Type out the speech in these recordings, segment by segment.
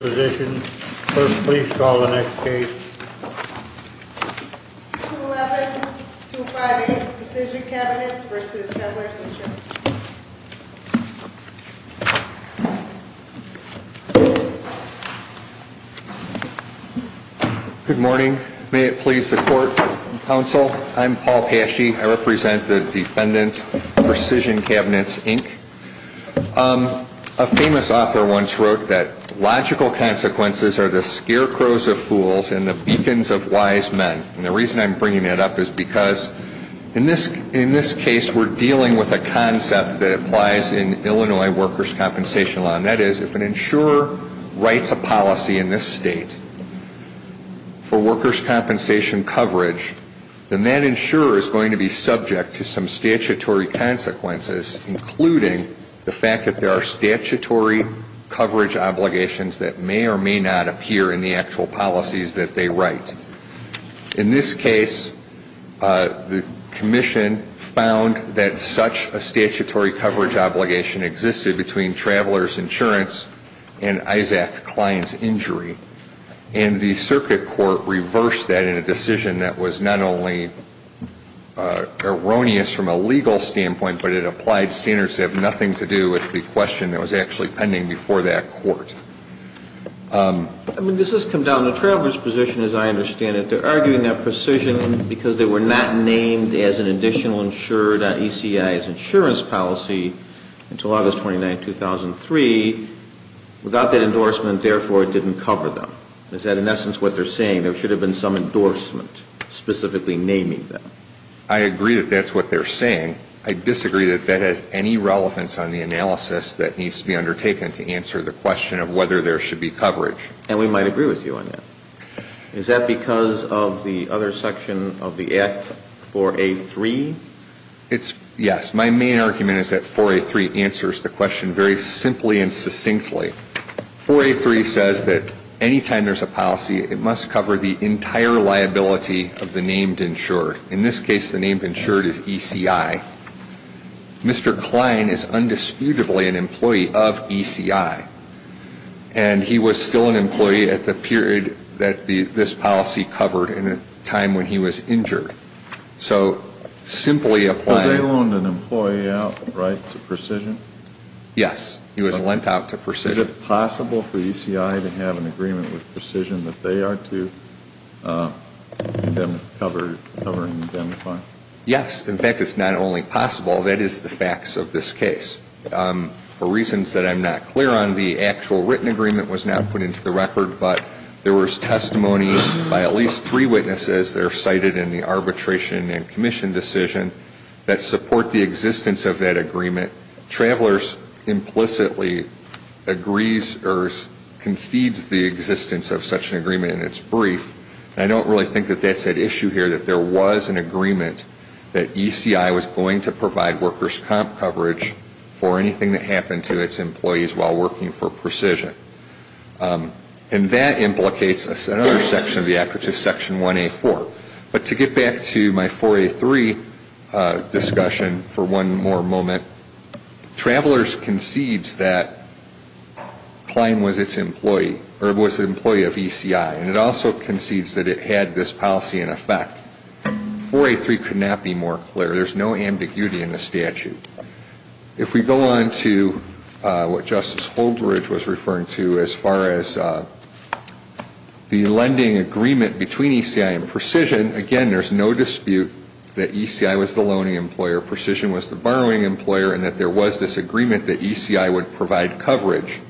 Good morning. May it please the Court, Counsel, I'm Paul Pashy. I represent the Defendant, Precision Cabinets, Inc. A famous author once wrote that logical consequences are the scarecrows of fools and the beacons of wise men. And the reason I'm bringing that up is because in this case we're dealing with a concept that applies in Illinois workers' compensation law. And that is if an insurer writes a policy in this state for workers' compensation coverage, then that insurer is going to be subject to some statutory consequences, including the fact that there are statutory coverage obligations that may or may not appear in the actual policies that they write. In this case, the Commission found that such a statutory coverage obligation existed between travelers' insurance and Isaac Klein's injury. And the circuit court reversed that in a decision that was not only erroneous from a legal standpoint, but it applied standards that have nothing to do with the question that was actually pending before that court. I mean, this has come down to the travelers' position, as I understand it. They're arguing that Precision, because they were not named as an insurer in 2003, without that endorsement, therefore, it didn't cover them. Is that in essence what they're saying? There should have been some endorsement specifically naming them. I agree that that's what they're saying. I disagree that that has any relevance on the analysis that needs to be undertaken to answer the question of whether there should be coverage. And we might agree with you on that. Is that because of the other section of the Act, 4A.3? It's, yes. My main argument is that 4A.3 answers the question very simply and succinctly. 4A.3 says that any time there's a policy, it must cover the entire liability of the named insured. In this case, the named insured is ECI. Mr. Klein is undisputably an employee of ECI. And he was still an employee at the period that this policy covered, in a time when he was injured. So simply applying Was he loaned an employee out, right, to Precision? Yes. He was lent out to Precision. Is it possible for ECI to have an agreement with Precision that they are to cover him? Yes. In fact, it's not only possible, that is the facts of this case. For reasons that I'm not clear on, the actual written agreement was not put into the record, but there was testimony by at least three witnesses that are cited in the arbitration and commission decision that support the existence of that agreement. Travelers implicitly agrees or concedes the existence of such an agreement in its brief. I don't really think that that's at issue here, that there was an agreement that ECI was going to provide workers' comp coverage for anything that happened to its employees while working for Precision. And that implicates another section of the Act, which is Section 1A.4. But to get back to my 4A.3 discussion for one more moment, Travelers concedes that Klein was its employee, or was an employee of ECI. And it also concedes that it had this policy in effect. 4A.3 could not be more clear. There's no ambiguity in the statute. If we go on to what Justice Holdridge was referring to as far as the lending agreement between ECI and Precision, again, there's no dispute that ECI was the loaning employer, Precision was the borrowing employer, and that there was this agreement that ECI would provide coverage.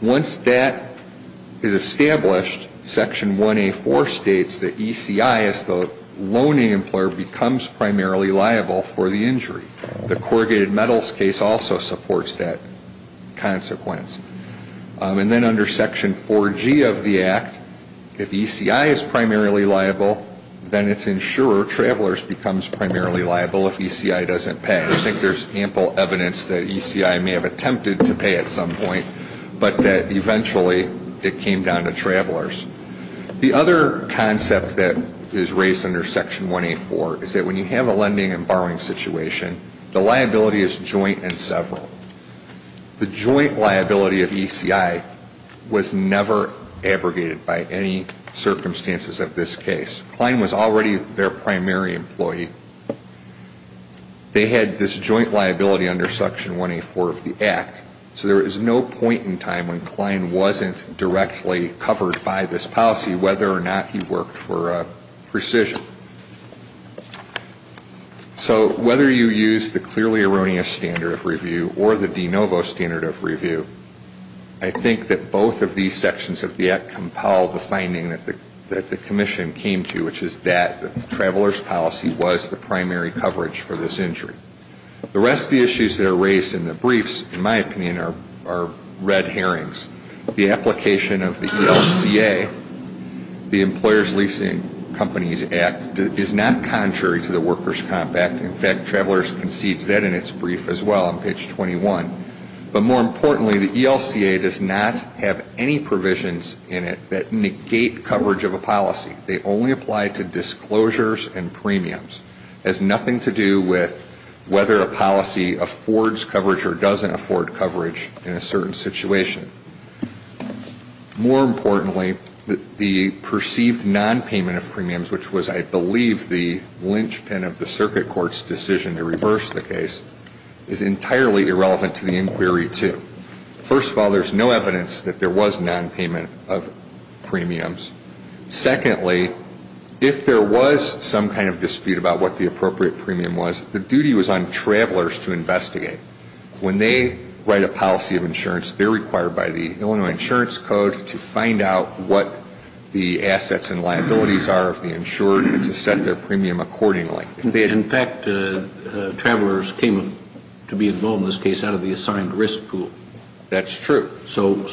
Once that is established, Section 1A.4 states that ECI as the loaning employer becomes primarily liable for the injury. The corrugated metals case also supports that consequence. And then under Section 4G of the Act, if ECI is primarily liable, then its insurer, Travelers, becomes primarily liable if ECI doesn't pay. I think there's ample evidence that ECI may have attempted to pay at some point, but that eventually it came down to Travelers. The other concept that is raised under Section 1A.4 is that when you have a lending and borrowing situation, the liability is joint and several. The joint liability of ECI was never abrogated by any circumstances of this case. Klein was already their primary employee. They had this joint liability under Section 1A.4 of the Act, so there was no point in time when Klein wasn't directly covered by this policy, whether or not he worked for Precision. So whether you use the clearly erroneous standard of review or the de novo standard of review, I think that both of these sections of the Act compel the finding that the commission came to, which is that Travelers' policy was the primary coverage for this injury. The rest of the issues that are raised in the briefs, in my opinion, are red herrings. The application of the ELCA, the But more importantly, the ELCA does not have any provisions in it that negate coverage of a policy. They only apply to disclosures and premiums. It has nothing to do with whether a policy affords coverage or doesn't afford coverage in a certain situation. More importantly, the perceived nonpayment of premiums, which was I believe the linchpin of the circuit court's decision to reverse the case, is entirely irrelevant to the inquiry, too. First of all, there's no evidence that there was nonpayment of premiums. Secondly, if there was some kind of dispute about what the appropriate premium was, the duty was on Travelers to investigate. When they write a policy of insurance, they're required by the Illinois Insurance Code to find out what the assets and liabilities are of the insured and to set their premium accordingly. In fact, Travelers came to be involved in this case out of the assigned risk pool. That's true. So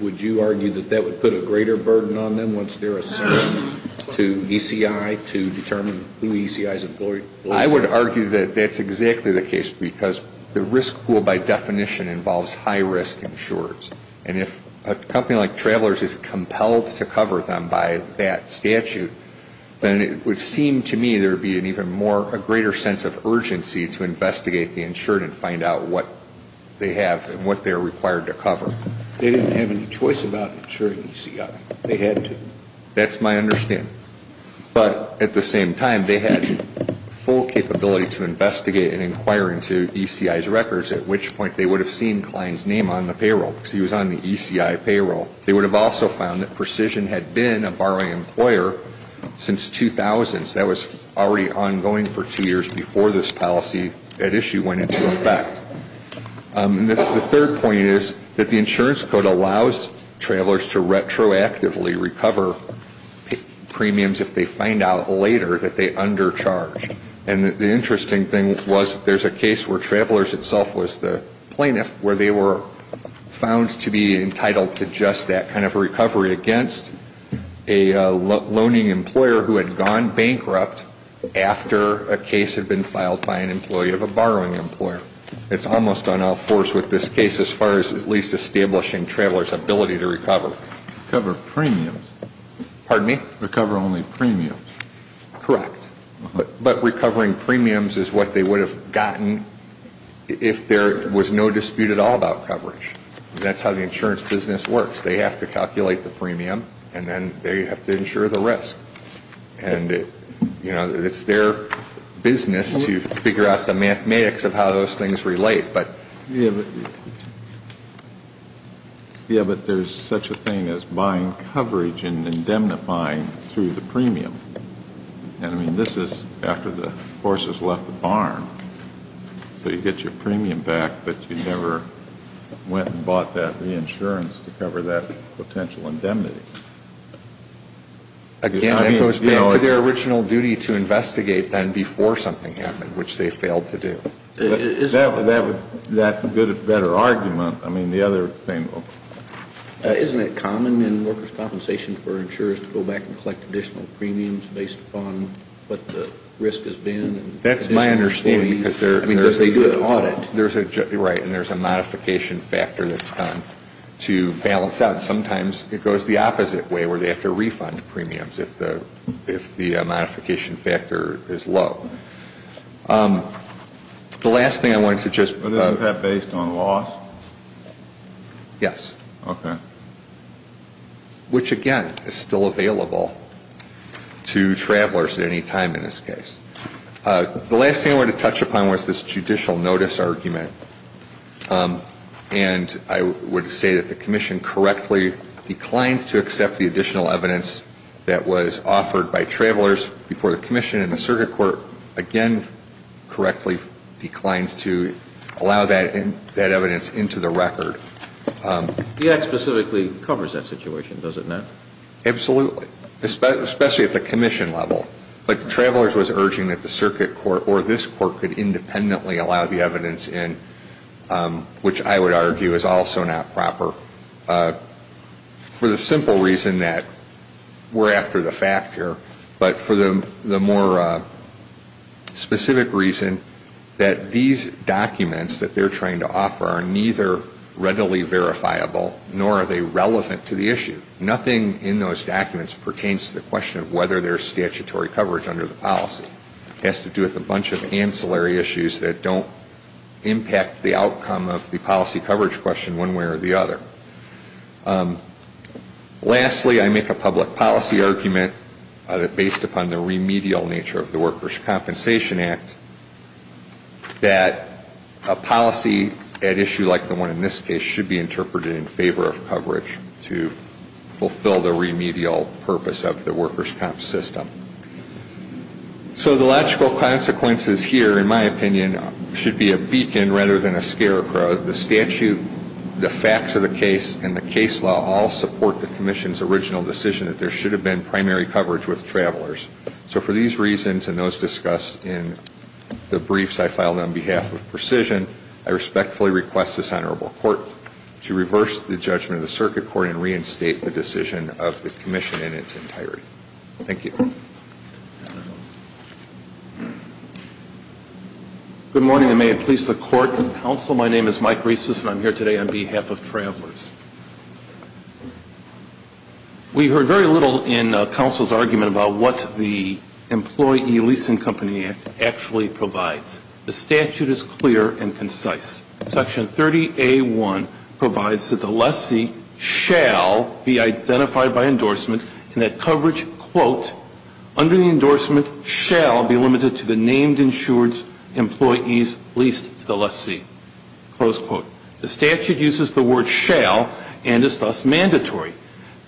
would you argue that that would put a greater burden on them once they're assigned to ECI to determine who ECI is employed? I would argue that that's exactly the case, because the risk pool by definition involves high-risk insurers. And if a company like Travelers is compelled to cover them by that statute, then it would seem to me there would be an even more, a greater sense of urgency to investigate the insured and find out what they have and what they're required to cover. They didn't have any choice about insuring ECI. They had to. That's my understanding. But at the same time, they had full capability to investigate and inquire into ECI's records, at which point they would have seen Klein's name on the payroll, because he was on the ECI payroll. They would have also found that Precision had been a borrowing employer since 2000. So that was already ongoing for two years before this policy at issue went into effect. The third point is that the insurance code allows Travelers to retroactively recover premiums if they find out later that they undercharged. And the interesting thing was there's a case where Travelers itself was the plaintiff where they were found to be entitled to just that kind of recovery against a loaning employer who had gone bankrupt after a case had been filed by an employee of a borrowing employer. It's almost on all fours with this case as far as at least establishing Travelers' ability to recover. Recover premiums? Pardon me? Recover only premiums? Correct. But recovering premiums is what they would have gotten if there was no dispute at all about coverage. That's how the insurance business works. They have to calculate the premium, and then they have to insure the risk. And it's their business to figure out the mathematics of how those things relate. Yeah, but there's such a thing as buying coverage and indemnifying through the premium. And I mean, this is after the horses left the barn. So you get your premium back, but you never went and bought that reinsurance to cover that potential indemnity. Again, it goes back to their original duty to investigate then before something happened, which they failed to do. That's a better argument. I mean, the other thing. Isn't it common in workers' compensation for insurers to go back and collect additional premiums based upon what the risk has been? That's my understanding. Because they do an audit. Right. And there's a modification factor that's done to balance out. And sometimes it goes the opposite way, where they have to refund premiums if the modification factor is low. The last thing I wanted to just... But isn't that based on loss? Yes. Okay. Which, again, is still available to travelers at any time in this case. The last thing I wanted to touch upon was this judicial notice argument. And I would say that the Commission correctly declined to accept the additional evidence that was offered by travelers before the Commission. And the Circuit Court, again, correctly declines to allow that evidence into the record. The Act specifically covers that situation, doesn't it? Absolutely. Especially at the Commission level. But the travelers was urging that the Circuit Court or this Court could independently allow the evidence in, which I would argue is also not proper. For the simple reason that we're after the fact here. But for the more specific reason that these documents that they're trying to offer are neither readily verifiable nor are they relevant to the issue. Nothing in those documents pertains to the question of whether there's statutory coverage under the policy. It has to do with a bunch of ancillary issues that don't impact the outcome of the policy coverage question one way or the other. Lastly, I make a public policy argument based upon the remedial nature of the Workers' Compensation Act. That a policy at issue like the one in this case should be interpreted in favor of coverage to fulfill the remedial purpose of the Workers' Comp system. So the logical consequences here, in my opinion, should be a beacon rather than a scarecrow. The statute, the facts of the case, and the case law all support the Commission's original decision that there should have been primary coverage with travelers. So for these reasons and those discussed in the briefs I filed on behalf of Precision, I respectfully request this Honorable Court to reverse the judgment of the Circuit Court and reinstate the decision of the Commission in its entirety. Thank you. Good morning, and may it please the Court and Council. My name is Mike Reese and I'm here today on behalf of Travelers. We heard very little in Council's argument about what the Employee Leasing Company Act actually provides. The statute is clear and concise. Section 30A1 provides that the lessee shall be identified by endorsement and that coverage, quote, under the endorsement shall be limited to the named insured's employees leased to the lessee, close quote. The statute uses the word shall and is thus mandatory.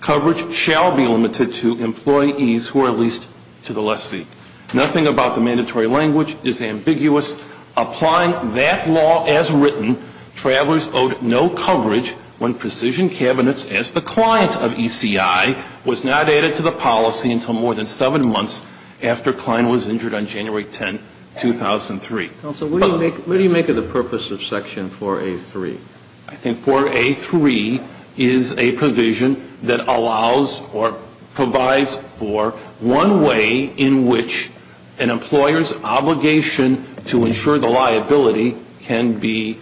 Coverage shall be limited to employees who are leased to the lessee. Nothing about the mandatory language is ambiguous. Applying that law as written, travelers owed no coverage when Precision Cabinets, as the clients of ECI, was not added to the policy until more than seven months after Klein was injured on January 10, 2003. Counsel, what do you make of the purpose of Section 4A3? I think 4A3 is a provision that allows or provides for one way in which an employer's obligation to insure the liability can be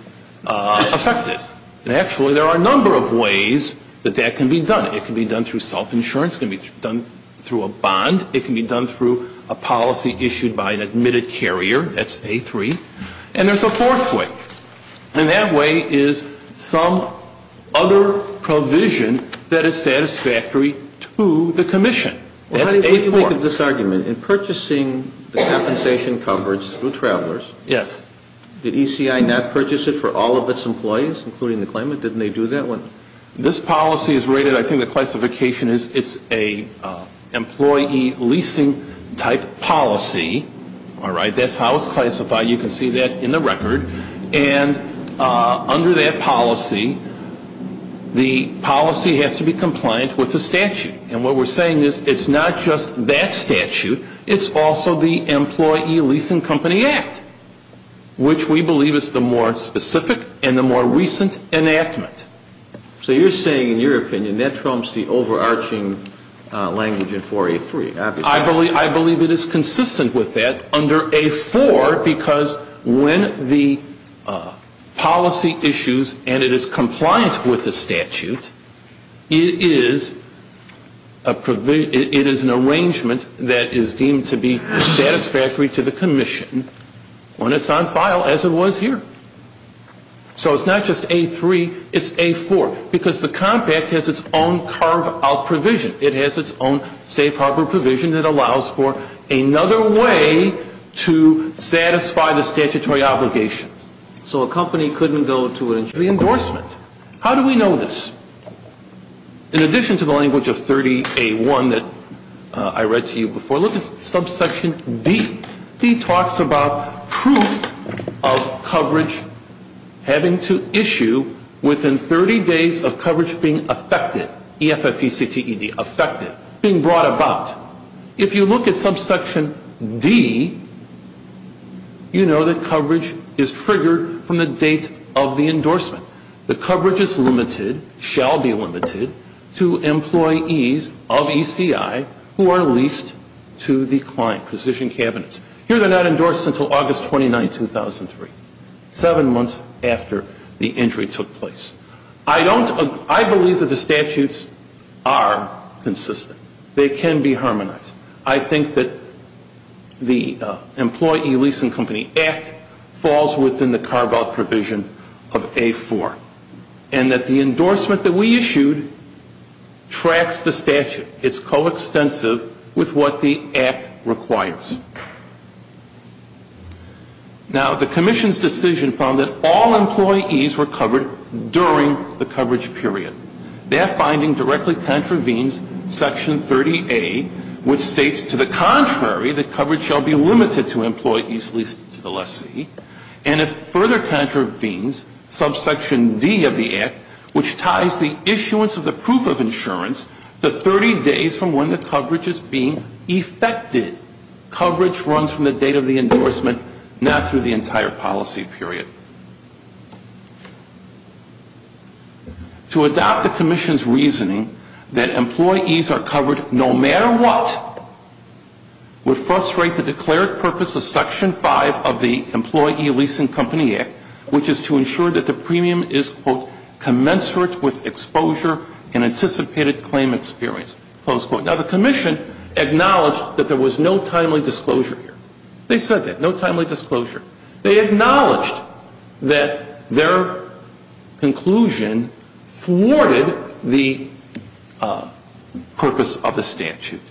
affected. And actually there are a number of ways that that can be done. It can be done through self-insurance. It can be done through a bond. It can be done through a policy issued by an admitted carrier. That's A3. And there's a fourth way. And that way is some other provision that is satisfactory to the commission. That's A4. Well, how do you make of this argument? In purchasing the compensation coverage through travelers, did ECI not purchase it for all of its employees, including the claimant? Didn't they do that one? This policy is rated, I think the classification is it's a employee leasing type policy. That's how it's classified. You can see that in the record. And under that policy, the policy has to be compliant with the statute. And what we're saying is it's not just that statute. It's also the Employee Leasing Company Act, which we believe is the more specific and the more recent enactment. So you're saying, in your opinion, that trumps the overarching language in 4A3. I believe it is consistent with that under A4 because when the policy issues and it is compliant with the statute, it is an arrangement that is deemed to be satisfactory to the commission when it's on file as it was here. So it's not just A3. It's A4. Because the compact has its own carve-out provision. It has its own safe harbor provision that allows for another way to satisfy the statutory obligation. So a company couldn't go to an injury endorsement. How do we know this? In addition to the language of 30A1 that I read to you before, look at subsection D. D talks about proof of coverage having to issue within 30 days of coverage being affected. E-F-F-E-C-T-E-D. Affected. Being brought about. If you look at subsection D, you know that coverage is triggered from the date of the endorsement. The coverage is limited, shall be limited, to employees of ECI who are leased to the client. Precision cabinets. Here they're not endorsed until August 29, 2003. Seven months after the injury took place. I believe that the statutes are consistent. They can be harmonized. I think that the Employee Leasing Company Act falls within the carve-out provision of A4. And that the endorsement that we issued tracks the statute. It's coextensive with what the Act requires. Now, the Commission's decision found that all employees were covered during the coverage period. Their finding directly contravenes section 30A, which states, to the contrary, that coverage shall be limited to employees leased to the lessee. And it further contravenes subsection D of the Act, which ties the issuance of the proof of insurance to 30 days from when the coverage is being affected. Coverage runs from the date of the endorsement, not through the entire policy period. To adopt the Commission's reasoning that employees are covered no matter what would frustrate the declared purpose of section 5 of the Employee Leasing Company Act, which is to ensure that the premium is, quote, commensurate with exposure and anticipated claim experience, close quote. Now, the Commission acknowledged that there was no timely disclosure here. They said that. No timely disclosure. They acknowledged that their conclusion thwarted the purpose of the statute.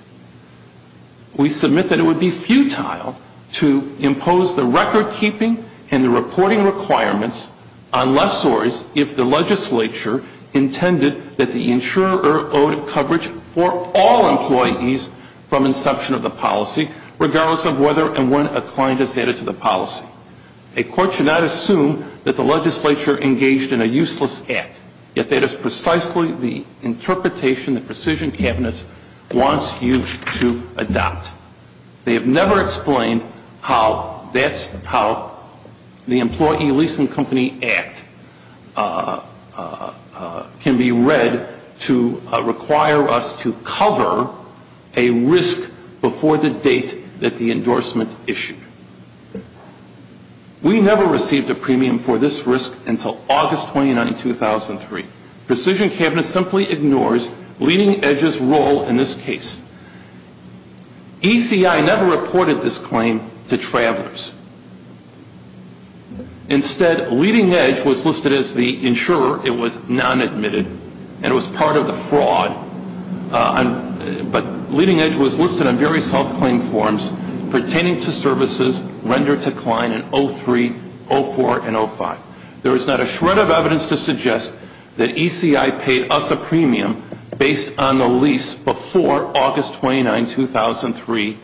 We submit that it would be futile to impose the record-keeping and the reporting requirements unless or if the legislature intended that the insurer owed coverage for all employees from inception of the policy, regardless of whether and when a client is added to the policy. A court should not assume that the legislature engaged in a useless act, yet that is precisely the interpretation the Precision Cabinet wants you to adopt. They have never explained how that's how the Employee Leasing Company Act can be read to require us to cover a risk before the date that the endorsement issued. We never received a premium for this risk until August 29, 2003. Precision Cabinet simply ignores LeadingEdge's role in this case. ECI never reported this claim to travelers. Instead, LeadingEdge was listed as the insurer. It was non-admitted, and it was part of the fraud. But LeadingEdge was listed on various health claim forms pertaining to services rendered to client in 03, 04, and 05. There is not a shred of evidence to suggest that ECI paid us a premium based on the lease before August 29, 2003,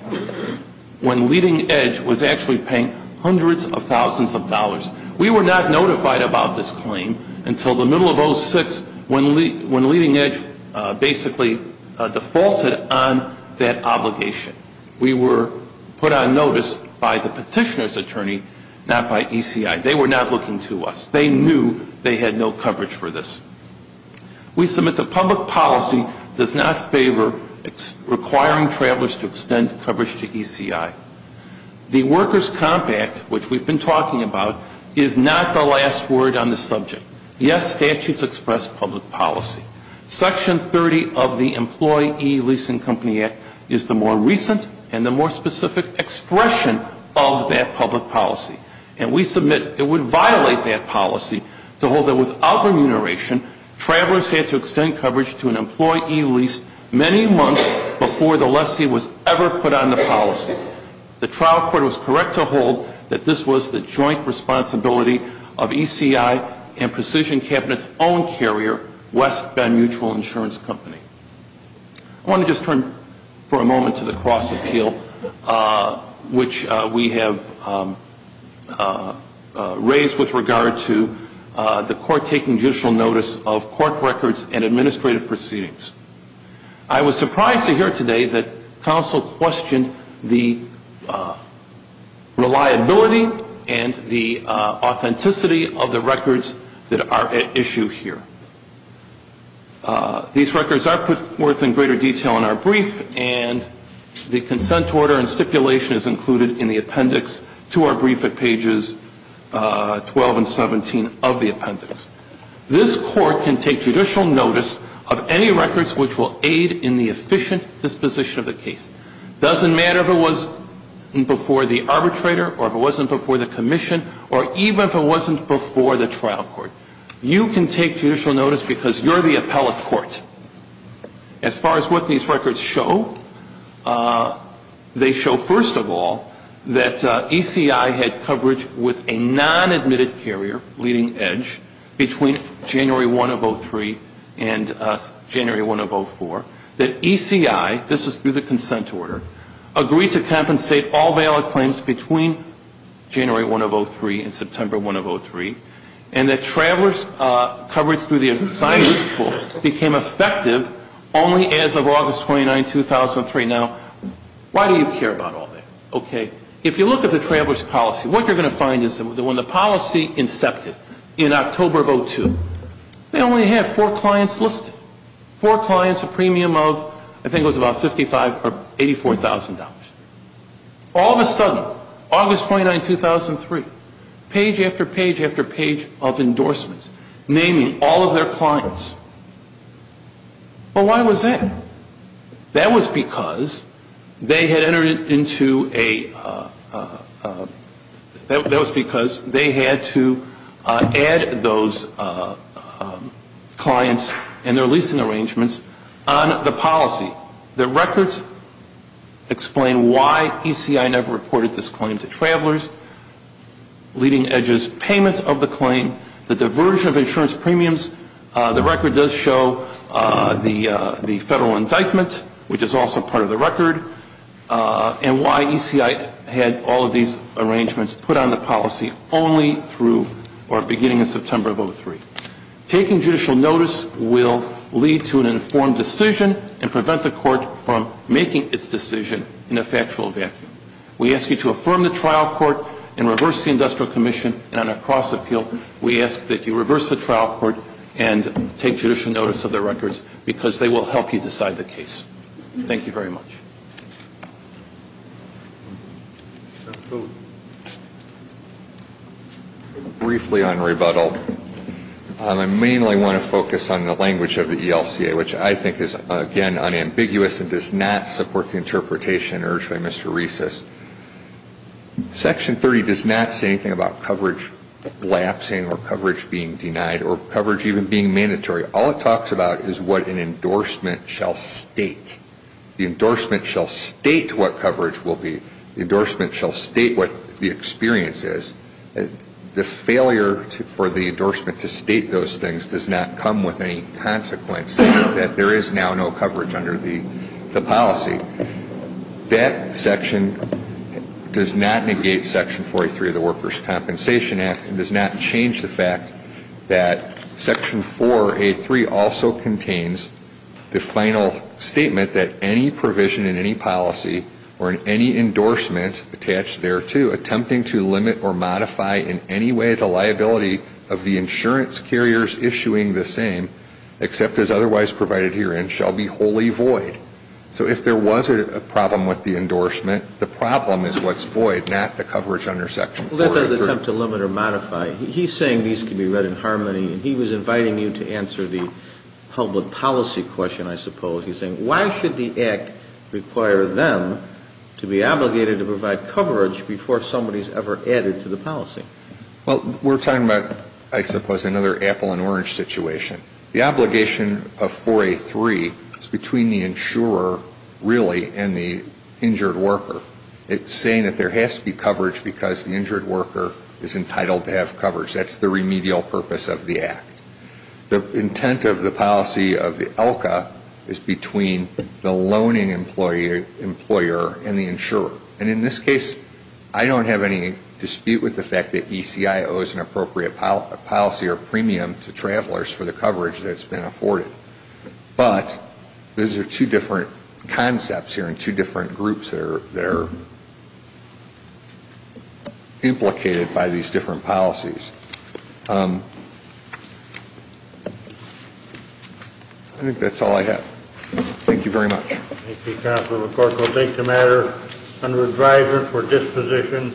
when LeadingEdge was actually paying hundreds of thousands of dollars. We were not notified about this claim until the middle of 06, when LeadingEdge basically defaulted on that obligation. We were put on notice by the petitioner's attorney, not by ECI. They were not looking to us. They knew they had no coverage for this. We submit that public policy does not favor requiring travelers to extend coverage to ECI. The Workers' Comp Act, which we've been talking about, is not the last word on the subject. Yes, statutes express public policy. Section 30 of the Employee Leasing Company Act is the more recent and the more specific expression of that public policy. And we submit it would violate that policy to hold that without remuneration, travelers had to extend coverage to an employee leased many months before the lessee was ever put on the policy. The trial court was correct to hold that this was the joint responsibility of ECI and Precision Cabinet's own carrier, West Bend Mutual Insurance Company. I want to just turn for a moment to the cross appeal, which we have raised with regard to the court taking judicial notice of court records and administrative proceedings. I was surprised to hear today that counsel questioned the reliability and the authenticity of the records that are at issue here. These records are put forth in greater detail in our brief and the consent order and stipulation is included in the appendix to our brief at pages 12 and 17 of the appendix. This court can take judicial notice of any records which will aid in the efficient disposition of the case. It doesn't matter if it was before the arbitrator or if it wasn't before the commission or even if it wasn't before the trial court. You can take judicial notice because you're the appellate court. As far as what these records show, they show first of all that ECI had coverage with a non-admitted carrier leading edge between January 1 of 03 and January 1 of 04. That ECI, this is through the consent order, agreed to compensate all valid claims between January 1 of 03 and September 1 of 03. And that traveler's coverage through the assigned use pool became effective only as of August 29, 2003. Now, why do you care about all that? Okay. If you look at the traveler's policy, what you're going to find is that when the policy incepted in October of 02, they only had four clients listed. Four clients, a premium of, I think it was about $55,000 or $84,000. All of a sudden, August 29, 2003, page after page after page of endorsements naming all of their clients. Well, why was that? That was because they had entered into a, that was because they had to add those clients and their leasing arrangements on the policy. The records explain why ECI never reported this claim to travelers. Leading edges, payments of the claim, the diversion of insurance premiums. The record does show the federal indictment, which is also part of the record, and why ECI had all of these arrangements put on the policy only through or beginning of September of 03. Taking judicial notice will lead to an informed decision and prevent the court from making its decision in a factual vacuum. We ask you to affirm the trial court and reverse the industrial commission and on a cross appeal, we ask that you reverse the trial court and take judicial notice of the records because they will help you decide the case. Thank you very much. Briefly on rebuttal, I mainly want to focus on the language of the ELCA, which I think is, again, unambiguous and does not support the interpretation urged by Mr. Reis. Section 30 does not say anything about coverage lapsing or coverage being denied or coverage even being mandatory. All it talks about is what an endorsement shall state. The endorsement shall state what coverage will be. The endorsement shall state what the experience is. The failure for the endorsement to state those things does not come with any consequence, saying that there is now no coverage under the policy. That section does not negate Section 43 of the Workers' Compensation Act and does not change the fact that Section 4A3 also contains the final statement that any provision in any policy or in any endorsement attached thereto attempting to limit or modify in any way the liability of the insurance carriers issuing the same, except as otherwise provided herein, shall be wholly void. So if there was a problem with the endorsement, the problem is what's void, not the coverage under Section 4A3. Well, that doesn't attempt to limit or modify. He's saying these can be read in harmony, and he was inviting you to answer the public policy question, I suppose. He's saying, why should the Act require them to be obligated to provide coverage before somebody's ever added to the policy? Well, we're talking about, I suppose, another apple and orange situation. The obligation of 4A3 is between the insurer, really, and the injured worker. It's saying that there has to be coverage because the injured worker is entitled to have coverage. That's the remedial purpose of the Act. The intent of the policy of the ELCA is between the loaning employer and the insurer. And in this case, I don't have any dispute with the fact that ECIO is an appropriate policy or premium to travelers for the coverage that's been afforded. But these are two different concepts here and two different groups that are implicated by these different policies. I think that's all I have. Thank you very much. Thank you, Counselor McCorkle. Take the matter under a driver for disposition.